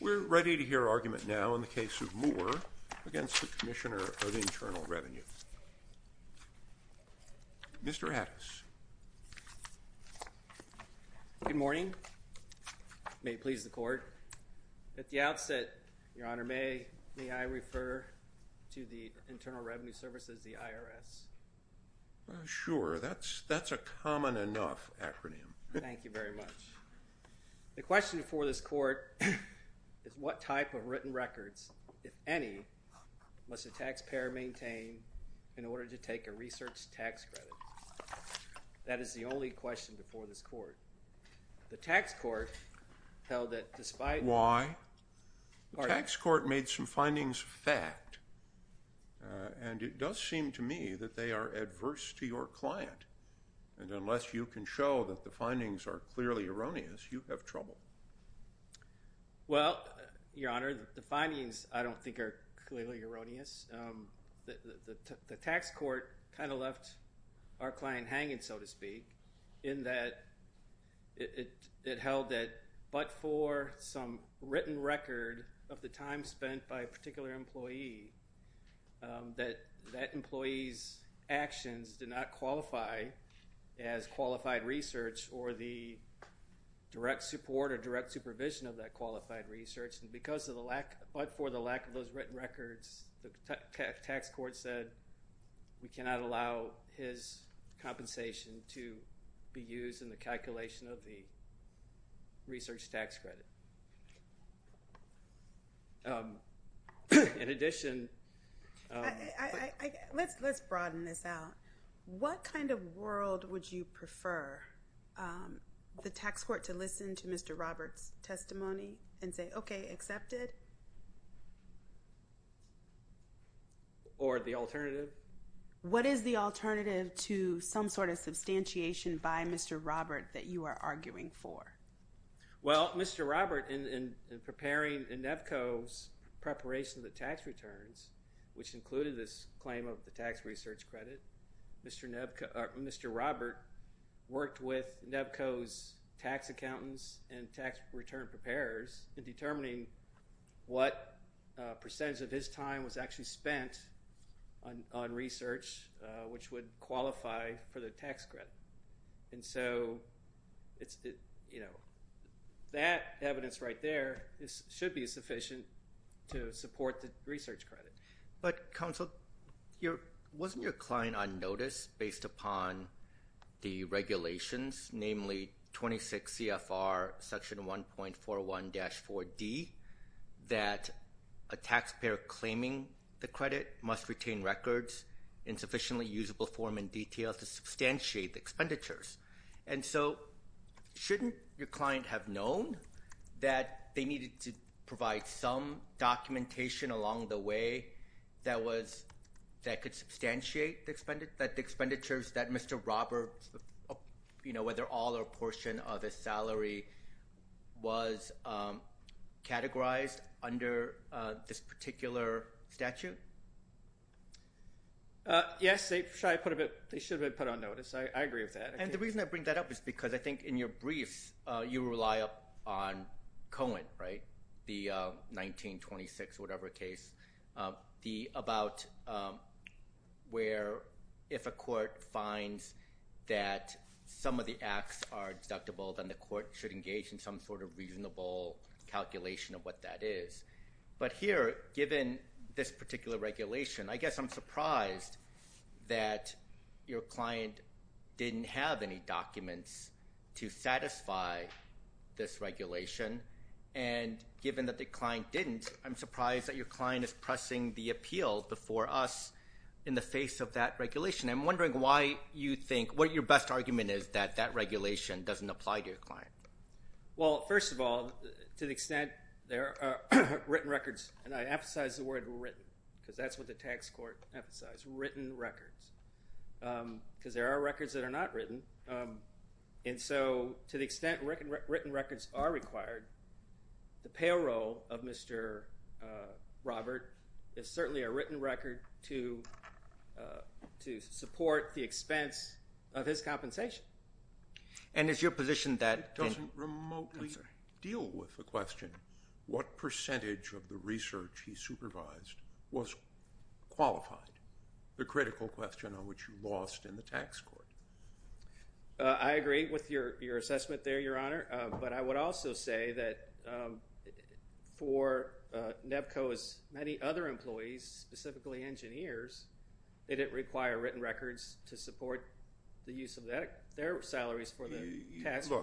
We're ready to hear argument now in the case of Moore against the Commissioner of Internal Revenue. Mr. Hattis. Good morning. May it please the Court. At the outset, Your Honor, may I refer to the Internal Revenue Service as the IRS? Sure. That's a common enough acronym. Thank you very much. The question before this Court is what type of written records, if any, must a taxpayer maintain in order to take a research tax credit? That is the only question before this Court. Why? The tax court made some findings fact, and it does seem to me that they are adverse to your client, and unless you can show that the findings are clearly erroneous, you have trouble. Well, Your Honor, the findings I don't think are clearly erroneous. The tax court left our client hanging, so to speak, in that it held that but for some written record of the time spent by a particular employee, that that employee's actions did not qualify as qualified research or the direct support or direct supervision of that qualified research, and because of the lack of those written records, the tax court said we cannot allow his compensation to be used in the calculation of the research tax credit. In addition... Let's broaden this out. What kind of world would you prefer the tax court to listen to Mr. Roberts' testimony and say, okay, accepted? Or the alternative? What is the alternative to some sort of substantiation by Mr. Robert that you are arguing for? Well, Mr. Robert, in preparing Nevco's preparation of the tax returns, which included this claim of the tax research credit, Mr. Robert worked with Nevco's tax accountants and tax return preparers in determining what percentage of his time was actually spent on research which would qualify for the tax credit. And so it's, you know, that evidence right there should be sufficient to support the research credit. But counsel, wasn't your client on notice based upon the regulations, namely 26 CFR section 1.41-4D, that a taxpayer claiming the credit must retain records in sufficiently usable form and detail to substantiate the expenditures? And so shouldn't your client have known that they needed to provide some substantiate the expenditures that Mr. Roberts, you know, whether all or a portion of his salary was categorized under this particular statute? Yes, they should have been put on notice. I agree with that. And the reason I bring that up is because I think in your briefs you rely on Cohen, the 1926 whatever case, about where if a court finds that some of the acts are deductible then the court should engage in some sort of reasonable calculation of what that is. But here, given this particular regulation, I guess I'm surprised that your client didn't have any documents to satisfy this regulation. And given that the client didn't, I'm surprised that your client is pressing the appeal before us in the face of that regulation. I'm wondering why you think, what your best argument is that that regulation doesn't apply to your client? Well, first of all, to the extent there are written records, and I emphasize the word written because that's what the tax court emphasized, written records, because there are records that are not written. And so to the extent written records are required, the payroll of Mr. Robert is certainly a written record to support the expense of his compensation. And is your position that... It doesn't remotely deal with the critical question on which you lost in the tax court. I agree with your assessment there, Your Honor, but I would also say that for Nevco's many other employees, specifically engineers, did it require written records to support the use of their salaries for the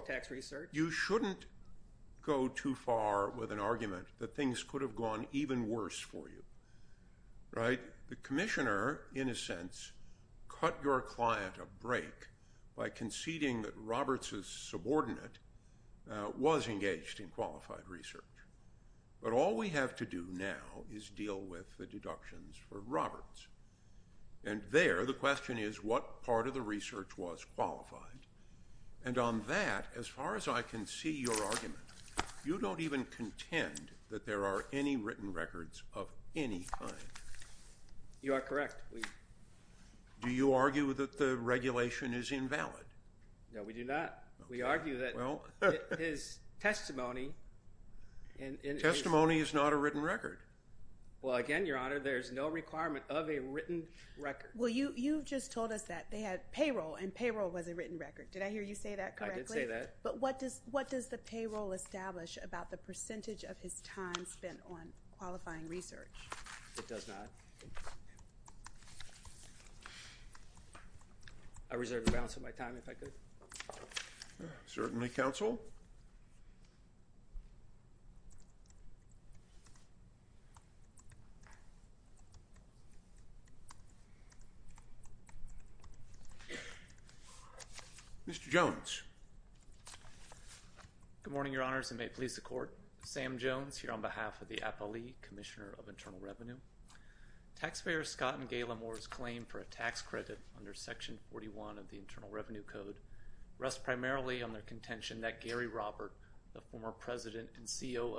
tax research? You shouldn't go too far with an argument that things could have gone even worse for you, right? The commissioner, in a sense, cut your client a break by conceding that Roberts's subordinate was engaged in qualified research. But all we have to do now is deal with the deductions for Roberts. And there, the question is, what part of the research was qualified? And on that, as far as I can see your are correct. Do you argue that the regulation is invalid? No, we do not. We argue that his testimony... Testimony is not a written record. Well, again, Your Honor, there's no requirement of a written record. Well, you just told us that they had payroll, and payroll was a written record. Did I hear you say that correctly? I did say that. But what does the payroll establish about the percentage of his time spent on qualifying research? It does not. I reserve the balance of my time, if I could. Certainly, counsel. Mr. Jones. Good morning, Your Honors, and may it please the Court. Sam Jones, here on behalf of the Apollee Commissioner of Internal Revenue. Taxpayers Scott and Gail Amore's claim for a tax credit under Section 41 of the Internal Revenue Code rest primarily on their contention that Gary Robert, the former president and COO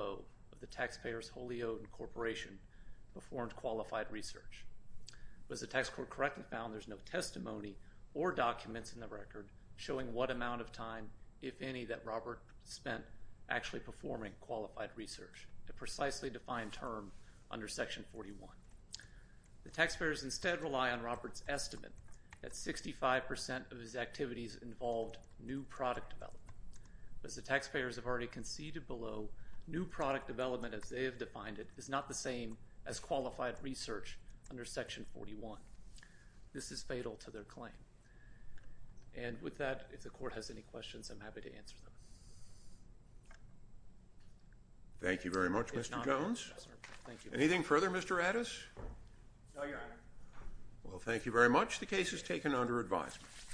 of the taxpayers wholly owned corporation, performed qualified research. Was the tax court correct and found there's no testimony or documents in the record showing what amount of time, if any, that Robert spent actually performing qualified research, a precisely defined term under Section 41? The taxpayers instead rely on Robert's estimate that 65% of his activities involved new product development. As the taxpayers have already conceded below, new product development, as they have defined it, is not the same as qualified research under Section 41. This is fatal to their claim. And with that, if the Thank you very much, Mr. Jones. Anything further, Mr. Addis? No, Your Honor. Well, thank you very much. The case is taken under advisement.